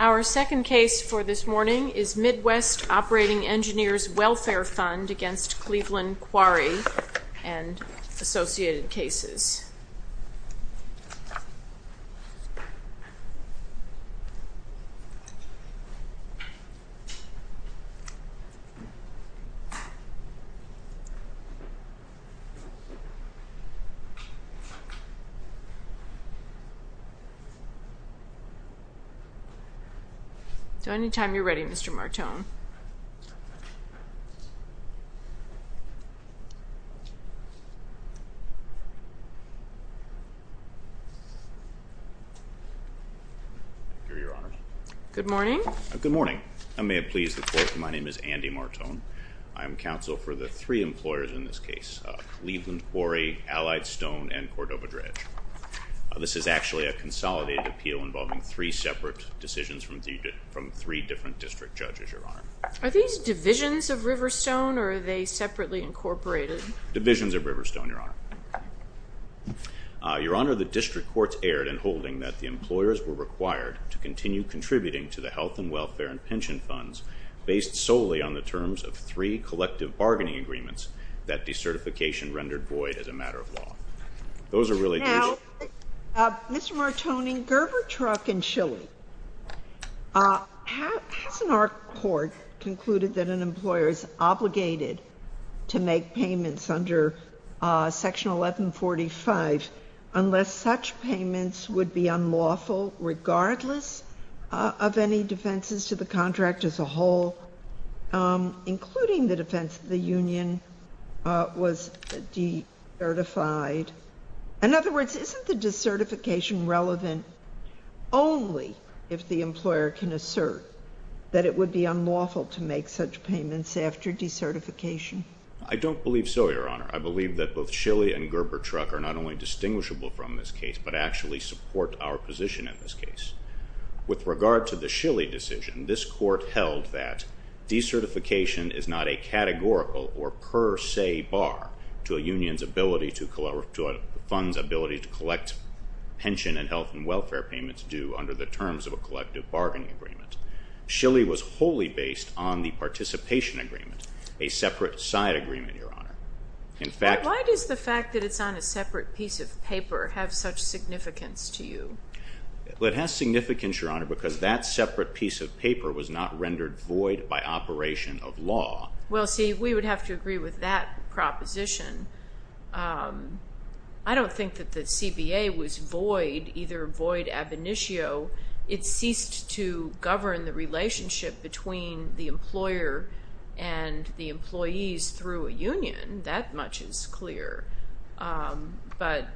Our second case for this morning is Midwest Operating Engineers Welfare Fund against Cleveland Quarry and associated cases. So anytime you're ready, Mr. Martone. Good morning. Good morning. I may have pleased the court. My name is Andy Martone. I'm counsel for the three employers in this case, Cleveland Quarry, Allied Stone, and Cordova Dredge. This is actually a consolidated appeal involving three separate decisions from three different district judges, Your Honor. Are these divisions of Riverstone or are they separately incorporated? Divisions of Riverstone, Your Honor. Your Honor, the district courts erred in holding that the employers were required to continue contributing to the health and welfare and pension funds based solely on the terms of three collective bargaining agreements that decertification rendered void as a matter of law. Now, Mr. Martone, Gerber Truck in Chile, hasn't our court concluded that an employer is obligated to make payments under Section 1145 unless such payments would be unlawful regardless of any defenses to the contract as a whole, including the defense that the union was decertified? In other words, isn't the decertification relevant only if the employer can assert that it would be unlawful to make such payments after decertification? I don't believe so, Your Honor. I believe that both Chile and Gerber Truck are not only distinguishable from this case but actually support our position in this case. With regard to the Chile decision, this court held that decertification is not a categorical or per se bar to a union's ability to collect pension and health and welfare payments due under the terms of a collective bargaining agreement. Chile was wholly based on the participation agreement, a separate side agreement, Your Honor. Why does the fact that it's on a separate piece of paper have such significance to you? Well, it has significance, Your Honor, because that separate piece of paper was not rendered void by operation of law. Well, see, we would have to agree with that proposition. I don't think that the CBA was void, either void ab initio. It ceased to govern the relationship between the employer and the employees through a union. That much is clear. But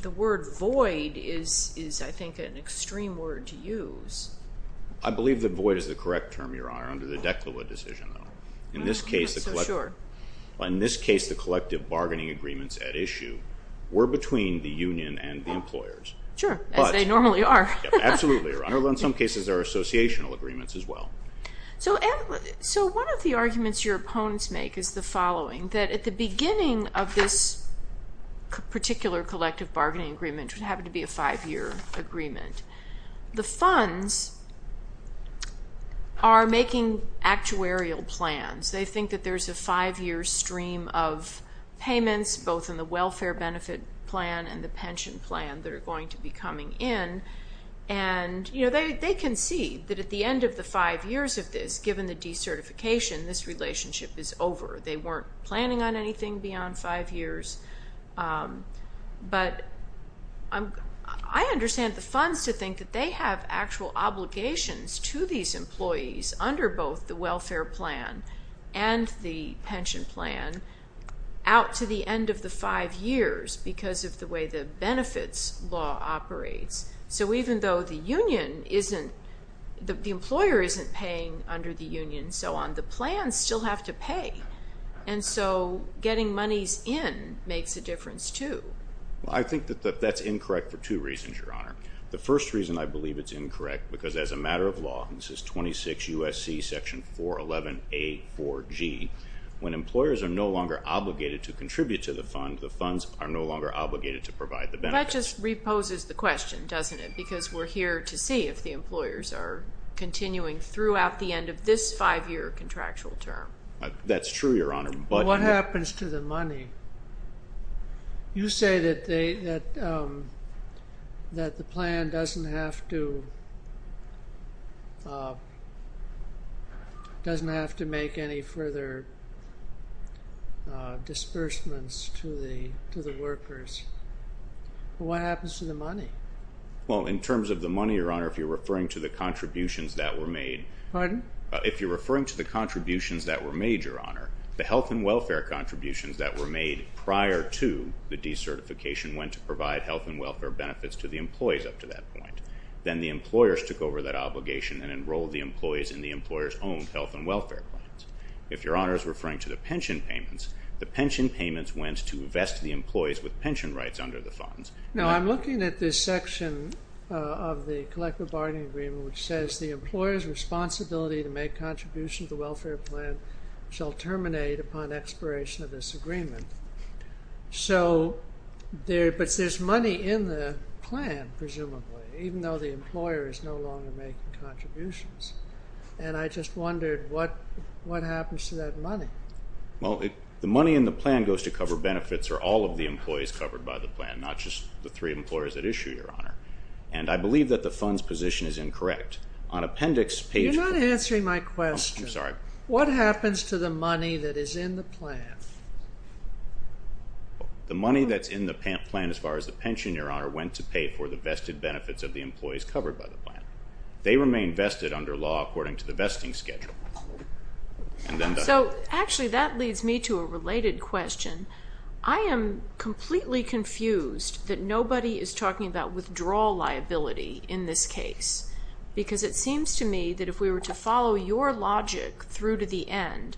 the word void is, I think, an extreme word to use. I believe that void is the correct term, Your Honor, under the Declawa decision. I don't think it's so sure. In this case, the collective bargaining agreements at issue were between the union and the employers. Sure, as they normally are. Absolutely, Your Honor, although in some cases there are associational agreements as well. So one of the arguments your opponents make is the following, that at the beginning of this particular collective bargaining agreement, which happened to be a five-year agreement, the funds are making actuarial plans. They think that there's a five-year stream of payments, both in the welfare benefit plan and the pension plan, that are going to be coming in. They can see that at the end of the five years of this, given the decertification, this relationship is over. They weren't planning on anything beyond five years. But I understand the funds to think that they have actual obligations to these employees under both the welfare plan and the pension plan out to the end of the five years because of the way the benefits law operates. So even though the employer isn't paying under the union and so on, the plans still have to pay. And so getting monies in makes a difference, too. Well, I think that that's incorrect for two reasons, Your Honor. The first reason I believe it's incorrect, because as a matter of law, and this is 26 U.S.C. section 411A4G, when employers are no longer obligated to contribute to the fund, the funds are no longer obligated to provide the benefits. Well, that just reposes the question, doesn't it? Because we're here to see if the employers are continuing throughout the end of this five-year contractual term. That's true, Your Honor. But what happens to the money? You say that the plan doesn't have to make any further disbursements to the workers. What happens to the money? Well, in terms of the money, Your Honor, if you're referring to the contributions that were made. Pardon? The contributions that were made prior to the decertification went to provide health and welfare benefits to the employees up to that point. Then the employers took over that obligation and enrolled the employees in the employers' own health and welfare plans. If Your Honor is referring to the pension payments, the pension payments went to invest the employees with pension rights under the funds. Now, I'm looking at this section of the collective bargaining agreement, which says the employer's responsibility to make contributions to the welfare plan shall terminate upon expiration of this agreement. But there's money in the plan, presumably, even though the employer is no longer making contributions. And I just wondered what happens to that money? Well, the money in the plan goes to cover benefits for all of the employees covered by the plan, not just the three employers at issue, Your Honor. And I believe that the funds position is incorrect. You're not answering my question. I'm sorry. What happens to the money that is in the plan? The money that's in the plan as far as the pension, Your Honor, went to pay for the vested benefits of the employees covered by the plan. They remain vested under law according to the vesting schedule. So, actually, that leads me to a related question. I am completely confused that nobody is talking about withdrawal liability in this case. Because it seems to me that if we were to follow your logic through to the end,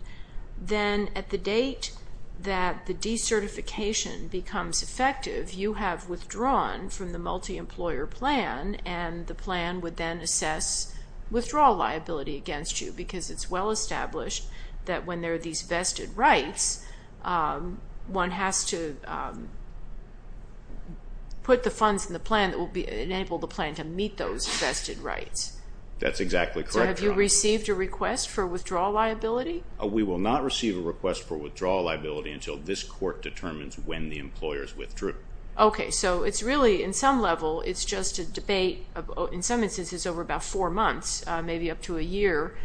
then at the date that the decertification becomes effective, you have withdrawn from the multi-employer plan, and the plan would then assess withdrawal liability against you. Because it's well established that when there are these vested rights, one has to put the funds in the plan that will enable the plan to meet those vested rights. That's exactly correct, Your Honor. So have you received a request for withdrawal liability? We will not receive a request for withdrawal liability until this court determines when the employers withdrew. Okay, so it's really, in some level, it's just a debate. In some instances, it's over about four months, maybe up to a year.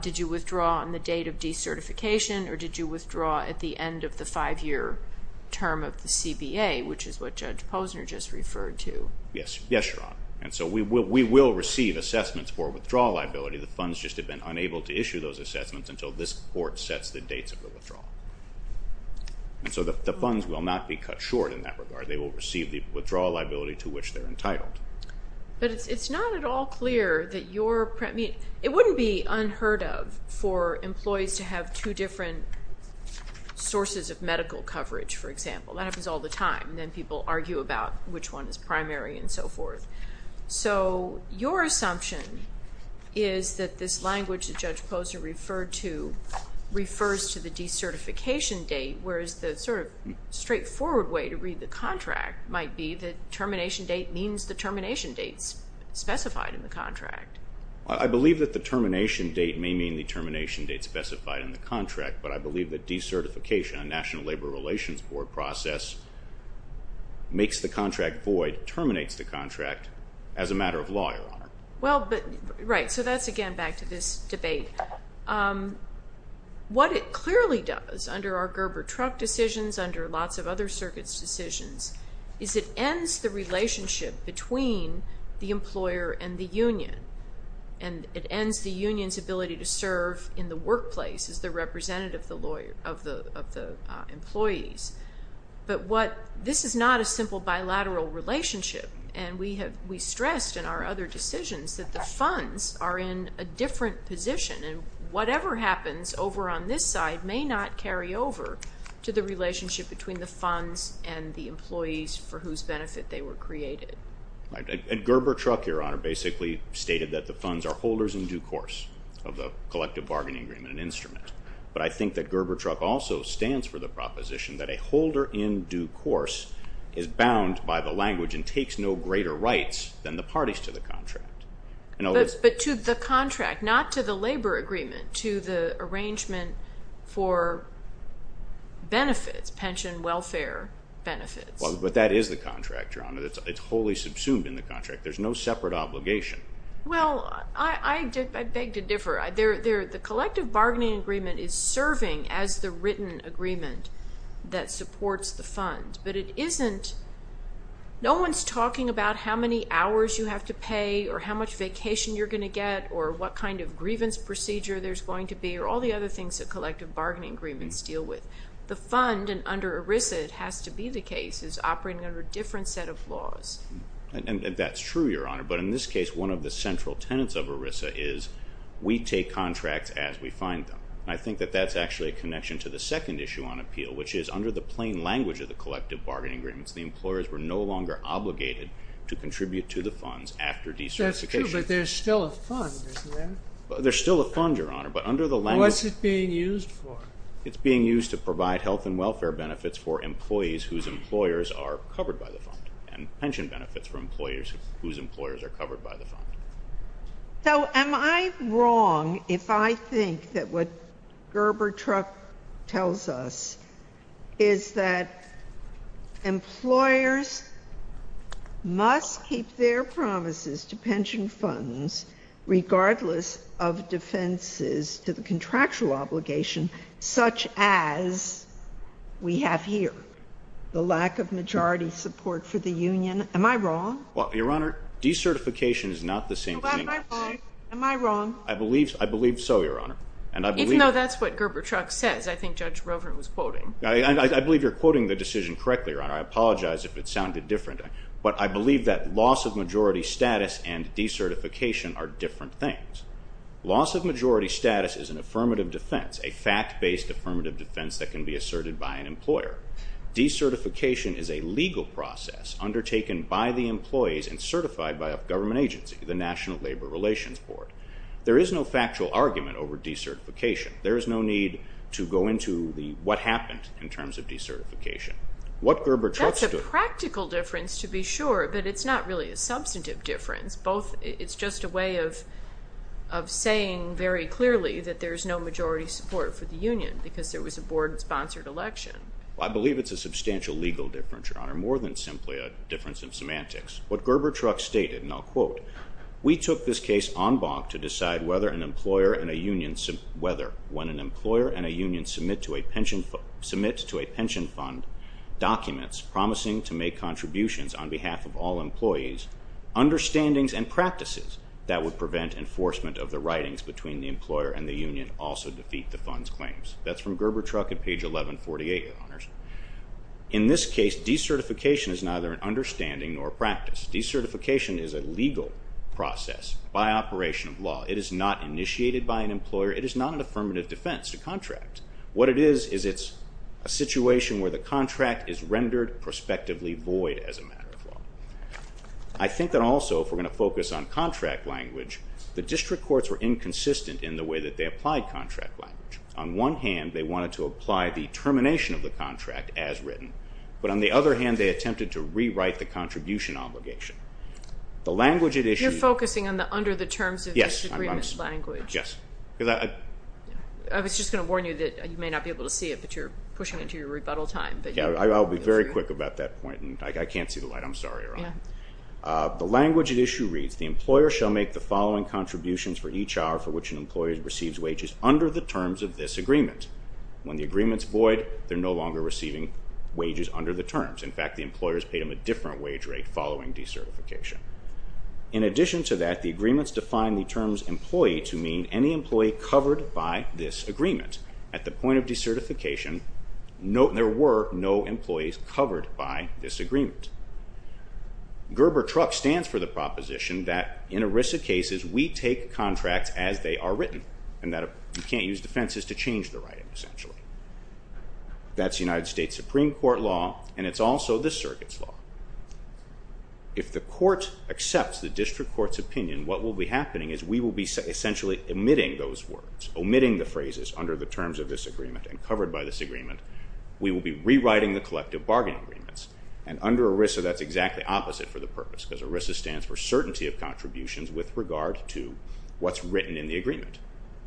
Did you withdraw on the date of decertification, or did you withdraw at the end of the five-year term of the CBA, which is what Judge Posner just referred to? Yes, Your Honor. And so we will receive assessments for withdrawal liability. The funds just have been unable to issue those assessments until this court sets the dates of the withdrawal. And so the funds will not be cut short in that regard. They will receive the withdrawal liability to which they're entitled. But it's not at all clear that your, I mean, it wouldn't be unheard of for employees to have two different sources of medical coverage, for example. That happens all the time, and then people argue about which one is primary and so forth. So your assumption is that this language that Judge Posner referred to refers to the decertification date, whereas the sort of straightforward way to read the contract might be the termination date means the termination dates specified in the contract. I believe that the termination date may mean the termination date specified in the contract, but I believe that decertification, a National Labor Relations Board process, makes the contract void, terminates the contract as a matter of law, Your Honor. Well, but, right, so that's again back to this debate. What it clearly does under our Gerber truck decisions, under lots of other circuits' decisions, is it ends the relationship between the employer and the union, and it ends the union's ability to serve in the workplace as the representative of the employees. But this is not a simple bilateral relationship, and we stressed in our other decisions that the funds are in a different position, and whatever happens over on this side may not carry over to the relationship between the funds and the employees for whose benefit they were created. And Gerber truck, Your Honor, basically stated that the funds are holders in due course of the collective bargaining agreement and instrument. But I think that Gerber truck also stands for the proposition that a holder in due course is bound by the language and takes no greater rights than the parties to the contract. But to the contract, not to the labor agreement, to the arrangement for benefits, pension welfare benefits. Well, but that is the contract, Your Honor. It's wholly subsumed in the contract. There's no separate obligation. Well, I beg to differ. The collective bargaining agreement is serving as the written agreement that supports the fund, but it isn't, no one's talking about how many hours you have to pay or how much vacation you're going to get or what kind of grievance procedure there's going to be or all the other things that collective bargaining agreements deal with. The fund, and under ERISA it has to be the case, is operating under a different set of laws. And that's true, Your Honor. But in this case, one of the central tenets of ERISA is we take contracts as we find them. I think that that's actually a connection to the second issue on appeal, which is under the plain language of the collective bargaining agreements, the employers were no longer obligated to contribute to the funds after decertification. That's true, but there's still a fund, isn't there? There's still a fund, Your Honor, but under the language... What's it being used for? It's being used to provide health and welfare benefits for employees whose employers are covered by the fund and pension benefits for employers whose employers are covered by the fund. So am I wrong if I think that what Gerber-Truck tells us is that employers must keep their promises to pension funds, regardless of defenses to the contractual obligation, such as we have here, the lack of majority support for the union? Am I wrong? Well, Your Honor, decertification is not the same thing. Am I wrong? I believe so, Your Honor. Even though that's what Gerber-Truck says. I think Judge Rover was quoting. I believe you're quoting the decision correctly, Your Honor. I apologize if it sounded different. But I believe that loss of majority status and decertification are different things. Loss of majority status is an affirmative defense, a fact-based affirmative defense that can be asserted by an employer. Decertification is a legal process undertaken by the employees and certified by a government agency, the National Labor Relations Board. There is no factual argument over decertification. There is no need to go into what happened in terms of decertification. That's a practical difference, to be sure, but it's not really a substantive difference. It's just a way of saying very clearly that there's no majority support for the union because there was a board-sponsored election. I believe it's a substantial legal difference, Your Honor, more than simply a difference in semantics. Documents promising to make contributions on behalf of all employees, understandings and practices that would prevent enforcement of the writings between the employer and the union also defeat the fund's claims. That's from Gerber Truck at page 1148, Your Honors. In this case, decertification is neither an understanding nor a practice. Decertification is a legal process by operation of law. It is not initiated by an employer. It is not an affirmative defense to contract. What it is is it's a situation where the contract is rendered prospectively void as a matter of law. I think that also, if we're going to focus on contract language, the district courts were inconsistent in the way that they applied contract language. On one hand, they wanted to apply the termination of the contract as written, but on the other hand, they attempted to rewrite the contribution obligation. The language at issue... You're focusing under the terms of this agreement's language. Yes. I was just going to warn you that you may not be able to see it, but you're pushing into your rebuttal time. I'll be very quick about that point, and I can't see the light. I'm sorry, Your Honor. The language at issue reads, the employer shall make the following contributions for each hour for which an employer receives wages under the terms of this agreement. When the agreement's void, they're no longer receiving wages under the terms. In fact, the employer's paid them a different wage rate following decertification. In addition to that, the agreements define the terms employee to mean any employee covered by this agreement. At the point of decertification, there were no employees covered by this agreement. Gerber-Truck stands for the proposition that in ERISA cases, we take contracts as they are written, and that you can't use defenses to change the writing, essentially. That's United States Supreme Court law, and it's also this circuit's law. If the court accepts the district court's opinion, what will be happening is we will be essentially omitting those words, omitting the phrases under the terms of this agreement and covered by this agreement. We will be rewriting the collective bargaining agreements, and under ERISA, that's exactly opposite for the purpose, because ERISA stands for certainty of contributions with regard to what's written in the agreement.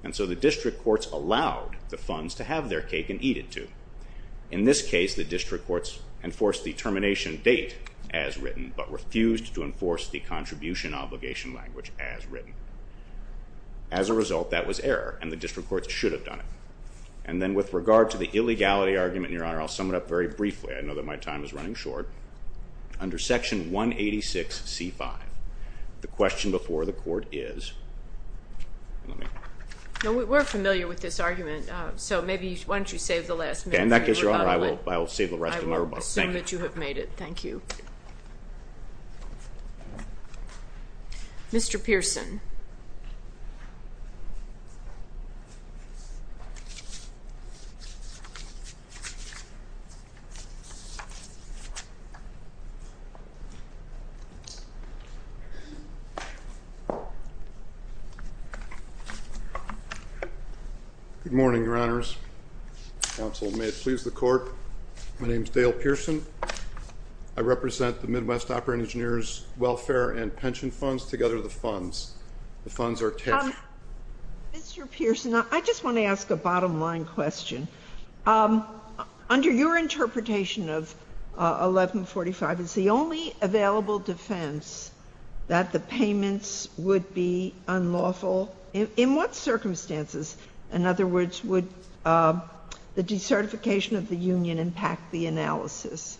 And so the district courts allowed the funds to have their cake and eat it, too. In this case, the district courts enforced the termination date as written, but refused to enforce the contribution obligation language as written. As a result, that was error, and the district courts should have done it. And then with regard to the illegality argument, Your Honor, I'll sum it up very briefly. I know that my time is running short. Under Section 186C5, the question before the court is... We're familiar with this argument, so maybe why don't you save the last minute for the rebuttal. In that case, Your Honor, I will save the rest of my rebuttal. I will assume that you have made it. Thank you. Mr. Pearson. Good morning, Your Honors. Counsel, may it please the Court. My name is Dale Pearson. I represent the Midwest Operating Engineers Welfare and Pension Funds, together the funds. The funds are... Mr. Pearson, I just want to ask a bottom-line question. Under your interpretation of 1145, it's the only available defense that the payments would be unlawful. In what circumstances, in other words, would the decertification of the union impact the analysis?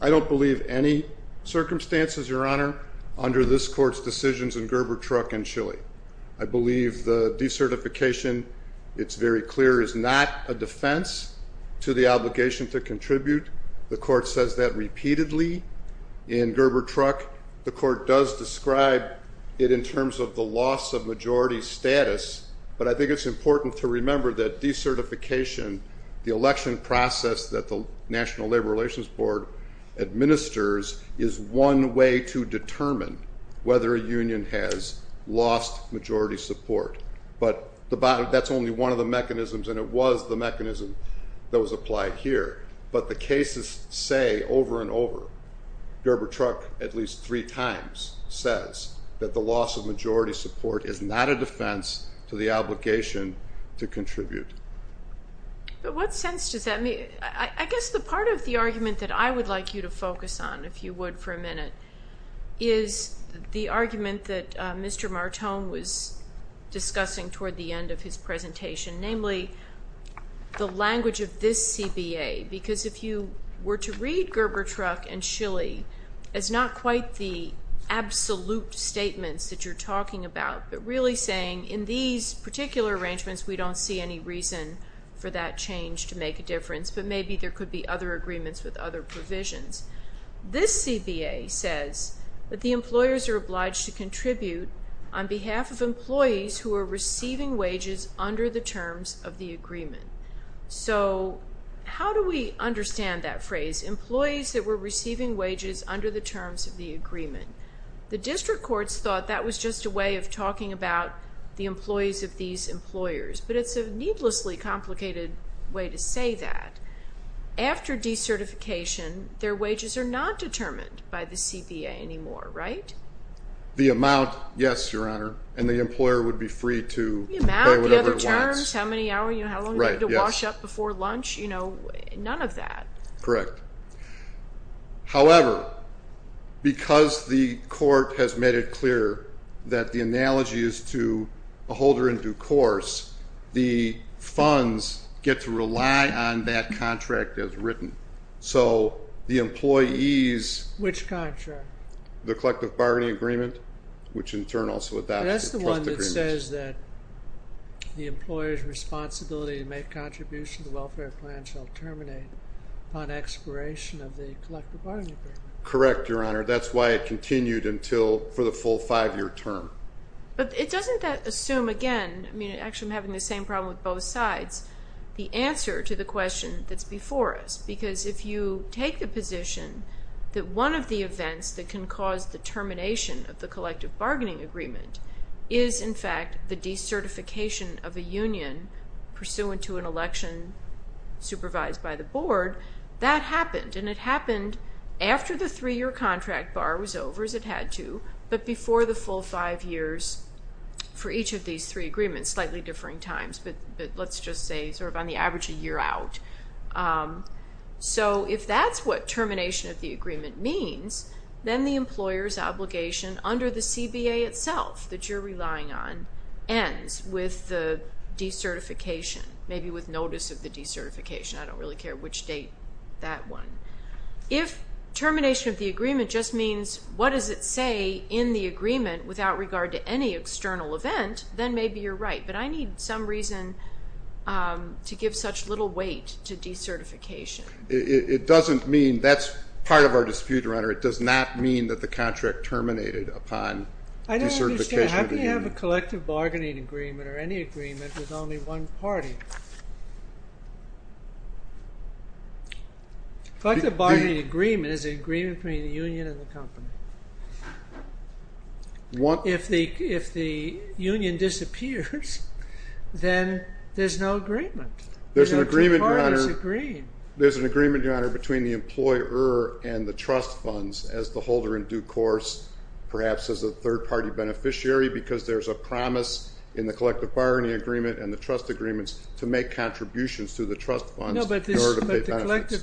I don't believe any circumstances, Your Honor, under this Court's decisions in Gerber Truck in Chile. I believe the decertification, it's very clear, is not a defense to the obligation to contribute. The Court says that repeatedly in Gerber Truck. The Court does describe it in terms of the loss of majority status, but I think it's important to remember that decertification, the election process that the National Labor Relations Board administers, is one way to determine whether a union has lost majority support. But that's only one of the mechanisms, and it was the mechanism that was applied here. But the cases say over and over, Gerber Truck at least three times says, that the loss of majority support is not a defense to the obligation to contribute. But what sense does that make? I guess the part of the argument that I would like you to focus on, if you would, for a minute, is the argument that Mr. Martone was discussing toward the end of his presentation, namely the language of this CBA. Because if you were to read Gerber Truck in Chile, it's not quite the absolute statements that you're talking about, but really saying in these particular arrangements, we don't see any reason for that change to make a difference, but maybe there could be other agreements with other provisions. This CBA says that the employers are obliged to contribute on behalf of employees who are receiving wages under the terms of the agreement. So how do we understand that phrase, employees that were receiving wages under the terms of the agreement? The district courts thought that was just a way of talking about the employees of these employers, but it's a needlessly complicated way to say that. After decertification, their wages are not determined by the CBA anymore, right? The amount, yes, Your Honor, and the employer would be free to pay whatever he wants. The amount, the other terms, how many hours, how long do you need to wash up before lunch, none of that. Correct. However, because the court has made it clear that the analogy is to a holder in due course, the funds get to rely on that contract as written. So the employees... Which contract? The collective bargaining agreement, which in turn also adopts the trust agreement. That's the one that says that the employer's responsibility to make contributions to the welfare plan shall terminate upon expiration of the collective bargaining agreement. Correct, Your Honor. That's why it continued until, for the full five-year term. But it doesn't assume, again, I mean, actually I'm having the same problem with both sides, the answer to the question that's before us, because if you take the position that one of the events that can cause the termination of the collective bargaining agreement is, in fact, the decertification of a union pursuant to an election supervised by the board, that happened, and it happened after the three-year contract bar was over, as it had to, but before the full five years for each of these three agreements, slightly differing times, but let's just say sort of on the average a year out. So if that's what termination of the agreement means, then the employer's obligation under the CBA itself that you're relying on ends with the decertification, maybe with notice of the decertification. I don't really care which date that one. If termination of the agreement just means what does it say in the agreement without regard to any external event, then maybe you're right, but I need some reason to give such little weight to decertification. It doesn't mean that's part of our dispute, Renter. It does not mean that the contract terminated upon decertification of the union. I don't understand. How can you have a collective bargaining agreement or any agreement with only one party? A collective bargaining agreement is an agreement between the union and the company. If the union disappears, then there's no agreement. There's an agreement between the employer and the trust funds as the holder in due course, perhaps as a third-party beneficiary because there's a promise in the collective bargaining agreement and the trust agreements to make contributions to the trust funds in order to pay benefits.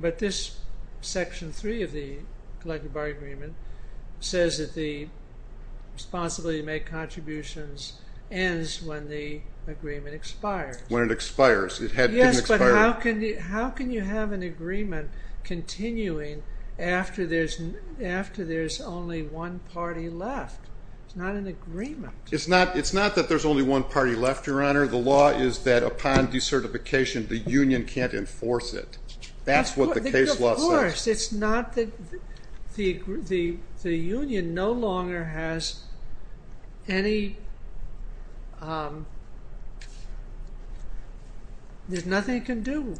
But this Section 3 of the collective bargaining agreement says that the responsibility to make contributions ends when the agreement expires. When it expires. Yes, but how can you have an agreement continuing after there's only one party left? It's not an agreement. It's not that there's only one party left, Your Honor. The law is that upon decertification, the union can't enforce it. That's what the case law says. Of course. The union no longer has any – there's nothing it can do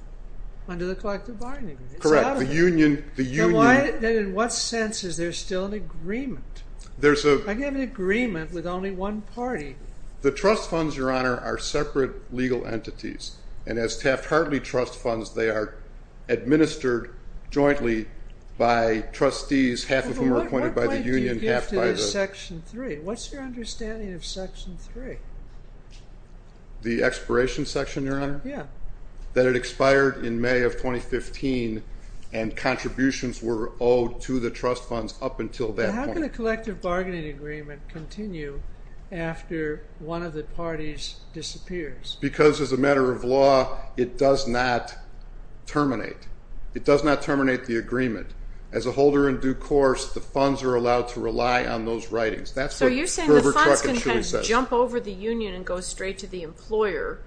under the collective bargaining agreement. Correct. The union – Then in what sense is there still an agreement? I can have an agreement with only one party. The trust funds, Your Honor, are separate legal entities. And as Taft-Hartley trust funds, they are administered jointly by trustees, half of whom are appointed by the union, half by the – What point do you give to this Section 3? What's your understanding of Section 3? The expiration section, Your Honor? Yeah. That it expired in May of 2015 and contributions were owed to the trust funds up until that point. How can a collective bargaining agreement continue after one of the parties disappears? Because as a matter of law, it does not terminate. It does not terminate the agreement. As a holder in due course, the funds are allowed to rely on those writings. That's what Herbert Crockett Shilley says. So you're saying the funds can kind of jump over the union and go straight to the employer,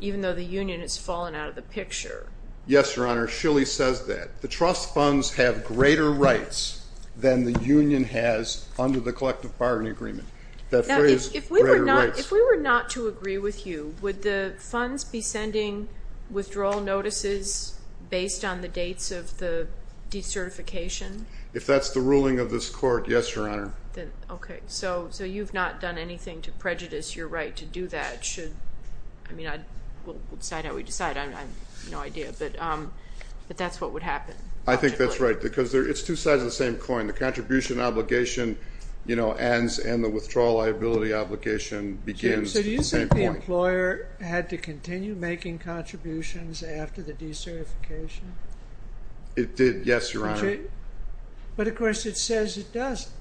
even though the union has fallen out of the picture? Yes, Your Honor. Shilley says that. The trust funds have greater rights than the union has under the collective bargaining agreement. If we were not to agree with you, would the funds be sending withdrawal notices based on the dates of the decertification? If that's the ruling of this court, yes, Your Honor. Okay. So you've not done anything to prejudice your right to do that. We'll decide how we decide. I have no idea, but that's what would happen. I think that's right because it's two sides of the same coin. The contribution obligation ends and the withdrawal liability obligation begins at the same point. So do you think the employer had to continue making contributions after the decertification? It did, yes, Your Honor. But, of course, it says it doesn't.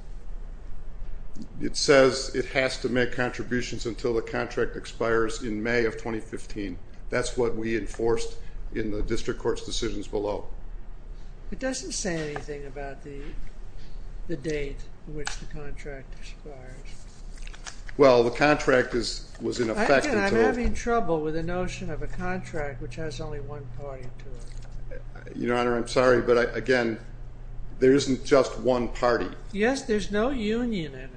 It says it has to make contributions until the contract expires in May of 2015. That's what we enforced in the district court's decisions below. It doesn't say anything about the date in which the contract expires. Well, the contract was in effect until— I'm having trouble with the notion of a contract which has only one party to it. Your Honor, I'm sorry, but, again, there isn't just one party. Yes, there's no union in it.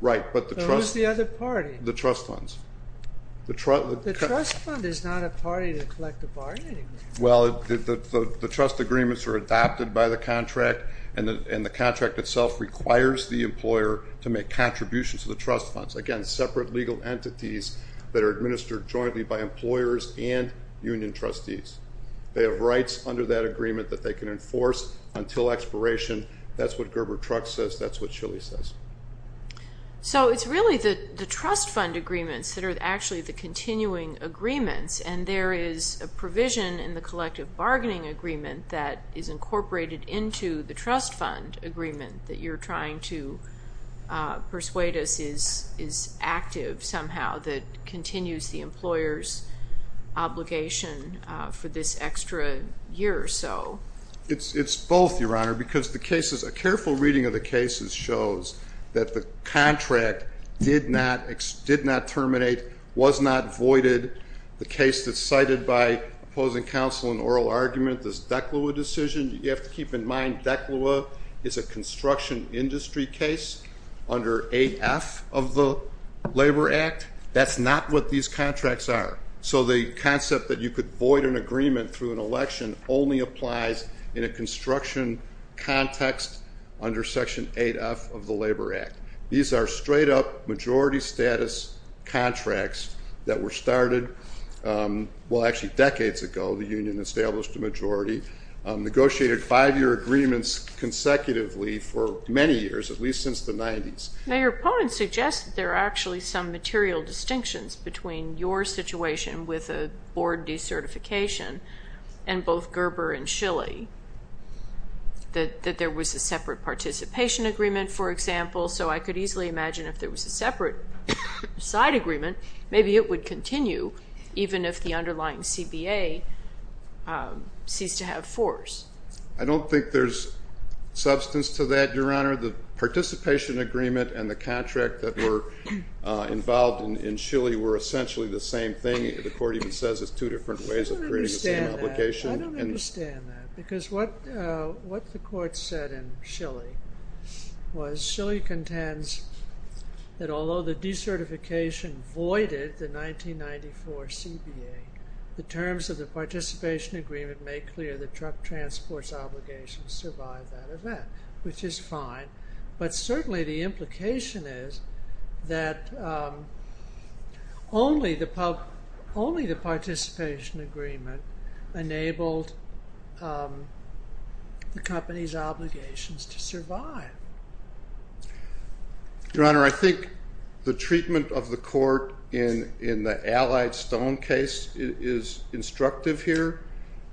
Right, but the trust— So who's the other party? The trust funds. The trust fund is not a party to collective bargaining. Well, the trust agreements are adopted by the contract, and the contract itself requires the employer to make contributions to the trust funds. Again, separate legal entities that are administered jointly by employers and union trustees. They have rights under that agreement that they can enforce until expiration. That's what Gerber-Trux says. That's what Shilley says. So it's really the trust fund agreements that are actually the continuing agreements, and there is a provision in the collective bargaining agreement that is incorporated into the trust fund agreement that you're trying to persuade us is active somehow, that continues the employer's obligation for this extra year or so. It's both, Your Honor, because the cases, a careful reading of the cases, shows that the contract did not terminate, was not voided. The case that's cited by opposing counsel in oral argument, this DECLA decision, you have to keep in mind DECLA is a construction industry case under AF of the Labor Act. That's not what these contracts are. So the concept that you could void an agreement through an election only applies in a construction context under Section 8F of the Labor Act. These are straight-up majority status contracts that were started, well, actually decades ago. The union established a majority, negotiated five-year agreements consecutively for many years, at least since the 90s. Now, your opponent suggests that there are actually some material distinctions between your situation with a board decertification and both Gerber and Schillie, that there was a separate participation agreement, for example. So I could easily imagine if there was a separate side agreement, maybe it would continue, even if the underlying CBA ceased to have force. I don't think there's substance to that, Your Honor. The participation agreement and the contract that were involved in Schillie were essentially the same thing. The court even says it's two different ways of creating the same obligation. I don't understand that, because what the court said in Schillie was Schillie contends that although the decertification voided the 1994 CBA, the terms of the participation agreement made clear the truck transport's obligation to survive that event, which is fine. But certainly the implication is that only the participation agreement enabled the company's obligations to survive. Your Honor, I think the treatment of the court in the Allied Stone case is instructive here.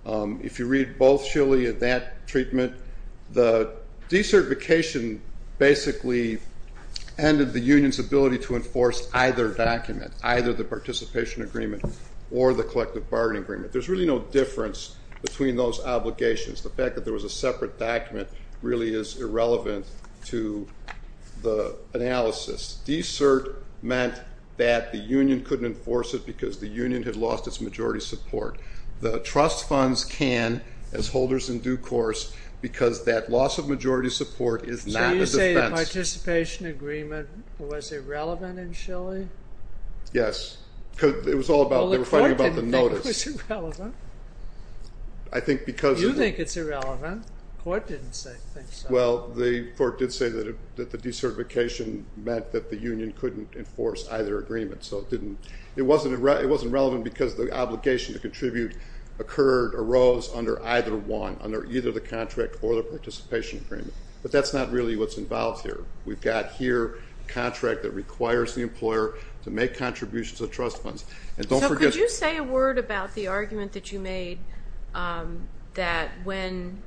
If you read both Schillie and that treatment, the decertification basically ended the union's ability to enforce either document, either the participation agreement or the collective bargaining agreement. There's really no difference between those obligations. The fact that there was a separate document really is irrelevant to the analysis. Decert meant that the union couldn't enforce it because the union had lost its majority support. The trust funds can, as holders in due course, because that loss of majority support is not a defense. So you say the participation agreement was irrelevant in Schillie? Yes. Well, the court didn't think it was irrelevant. You think it's irrelevant. The court didn't think so. Well, the court did say that the decertification meant that the union couldn't enforce either agreement. It wasn't relevant because the obligation to contribute arose under either one, under either the contract or the participation agreement. But that's not really what's involved here. We've got here a contract that requires the employer to make contributions of trust funds. So could you say a word about the argument that you made that when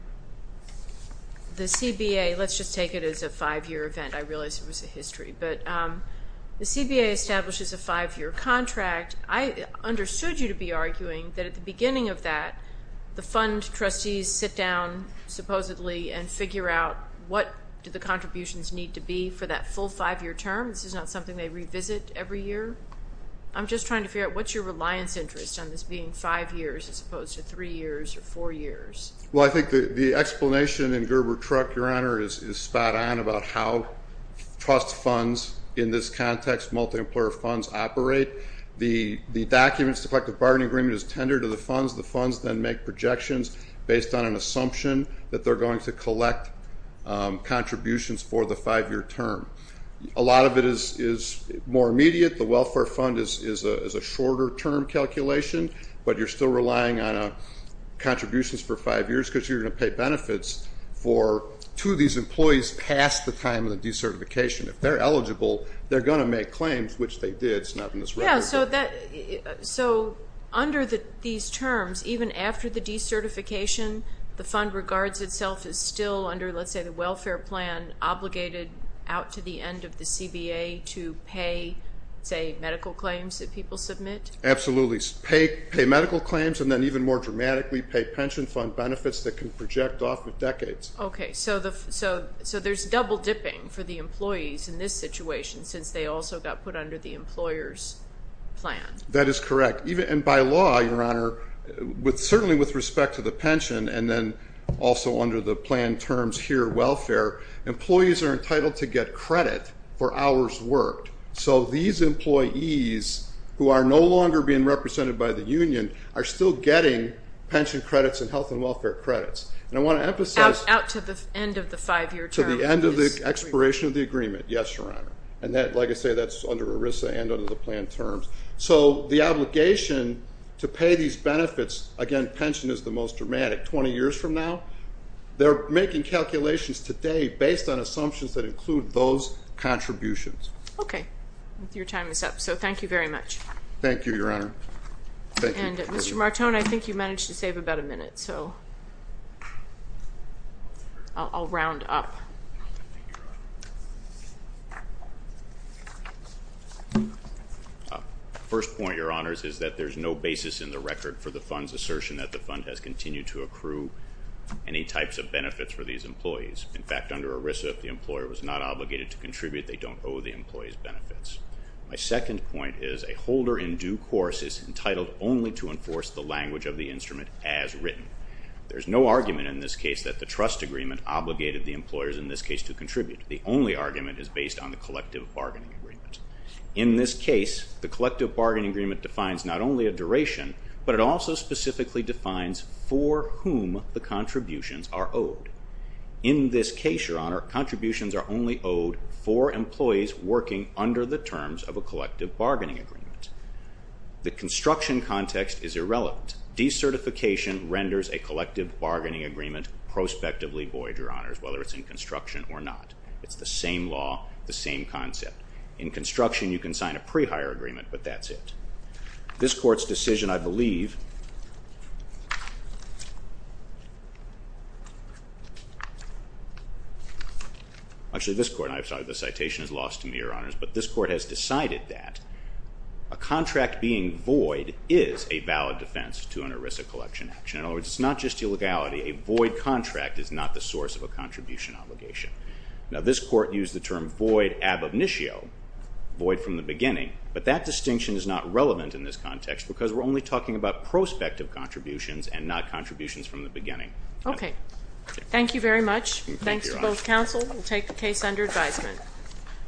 the CBA, let's just take it as a five-year event, I realize it was a history, but the CBA establishes a five-year contract. I understood you to be arguing that at the beginning of that, the fund trustees sit down, supposedly, and figure out what do the contributions need to be for that full five-year term. This is not something they revisit every year. I'm just trying to figure out what's your reliance interest on this being five years as opposed to three years or four years. Well, I think the explanation in Gerber-Truck, Your Honor, is spot on about how trust funds in this context, multi-employer funds operate. The documents, the collective bargaining agreement is tendered to the funds. The funds then make projections based on an assumption that they're going to collect contributions for the five-year term. A lot of it is more immediate. The welfare fund is a shorter-term calculation, but you're still relying on contributions for five years because you're going to pay benefits for two of these employees past the time of the decertification. If they're eligible, they're going to make claims, which they did. It's not in this record. Yeah, so under these terms, even after the decertification, the fund regards itself as still under, let's say, the welfare plan obligated out to the end of the CBA to pay, say, medical claims that people submit? Absolutely. Pay medical claims and then even more dramatically pay pension fund benefits that can project off of decades. Okay, so there's double dipping for the employees in this situation since they also got put under the employer's plan. That is correct. And by law, Your Honor, certainly with respect to the pension and then also under the plan terms here, welfare, employees are entitled to get credit for hours worked. So these employees who are no longer being represented by the union are still getting pension credits and health and welfare credits. And I want to emphasize- Out to the end of the five-year term. To the end of the expiration of the agreement, yes, Your Honor. And like I say, that's under ERISA and under the plan terms. So the obligation to pay these benefits, again, pension is the most dramatic 20 years from now. They're making calculations today based on assumptions that include those contributions. Okay. Your time is up. So thank you very much. Thank you, Your Honor. And Mr. Martone, I think you managed to save about a minute, so I'll round up. First point, Your Honors, is that there's no basis in the record for the fund's assertion that the fund has continued to accrue any types of benefits for these employees. In fact, under ERISA, if the employer was not obligated to contribute, they don't owe the employees benefits. My second point is a holder in due course is entitled only to enforce the language of the instrument as written. There's no argument in this case that the trust agreement obligated the employers in due course in this case to contribute. The only argument is based on the collective bargaining agreement. In this case, the collective bargaining agreement defines not only a duration, but it also specifically defines for whom the contributions are owed. In this case, Your Honor, contributions are only owed for employees working under the terms of a collective bargaining agreement. The construction context is irrelevant. De-certification renders a collective bargaining agreement prospectively void, Your Honors, whether it's in construction or not. It's the same law, the same concept. In construction, you can sign a pre-hire agreement, but that's it. This Court's decision, I believe, actually this Court, I'm sorry, the citation is lost to me, Your Honors, but this Court has decided that a contract being void is a valid defense to an ERISA collection action. In other words, it's not just illegality. A void contract is not the source of a contribution obligation. Now, this Court used the term void ab initio, void from the beginning, but that distinction is not relevant in this context because we're only talking about prospective contributions and not contributions from the beginning. Okay. Thank you very much. Thanks to both counsel. We'll take the case under advisement.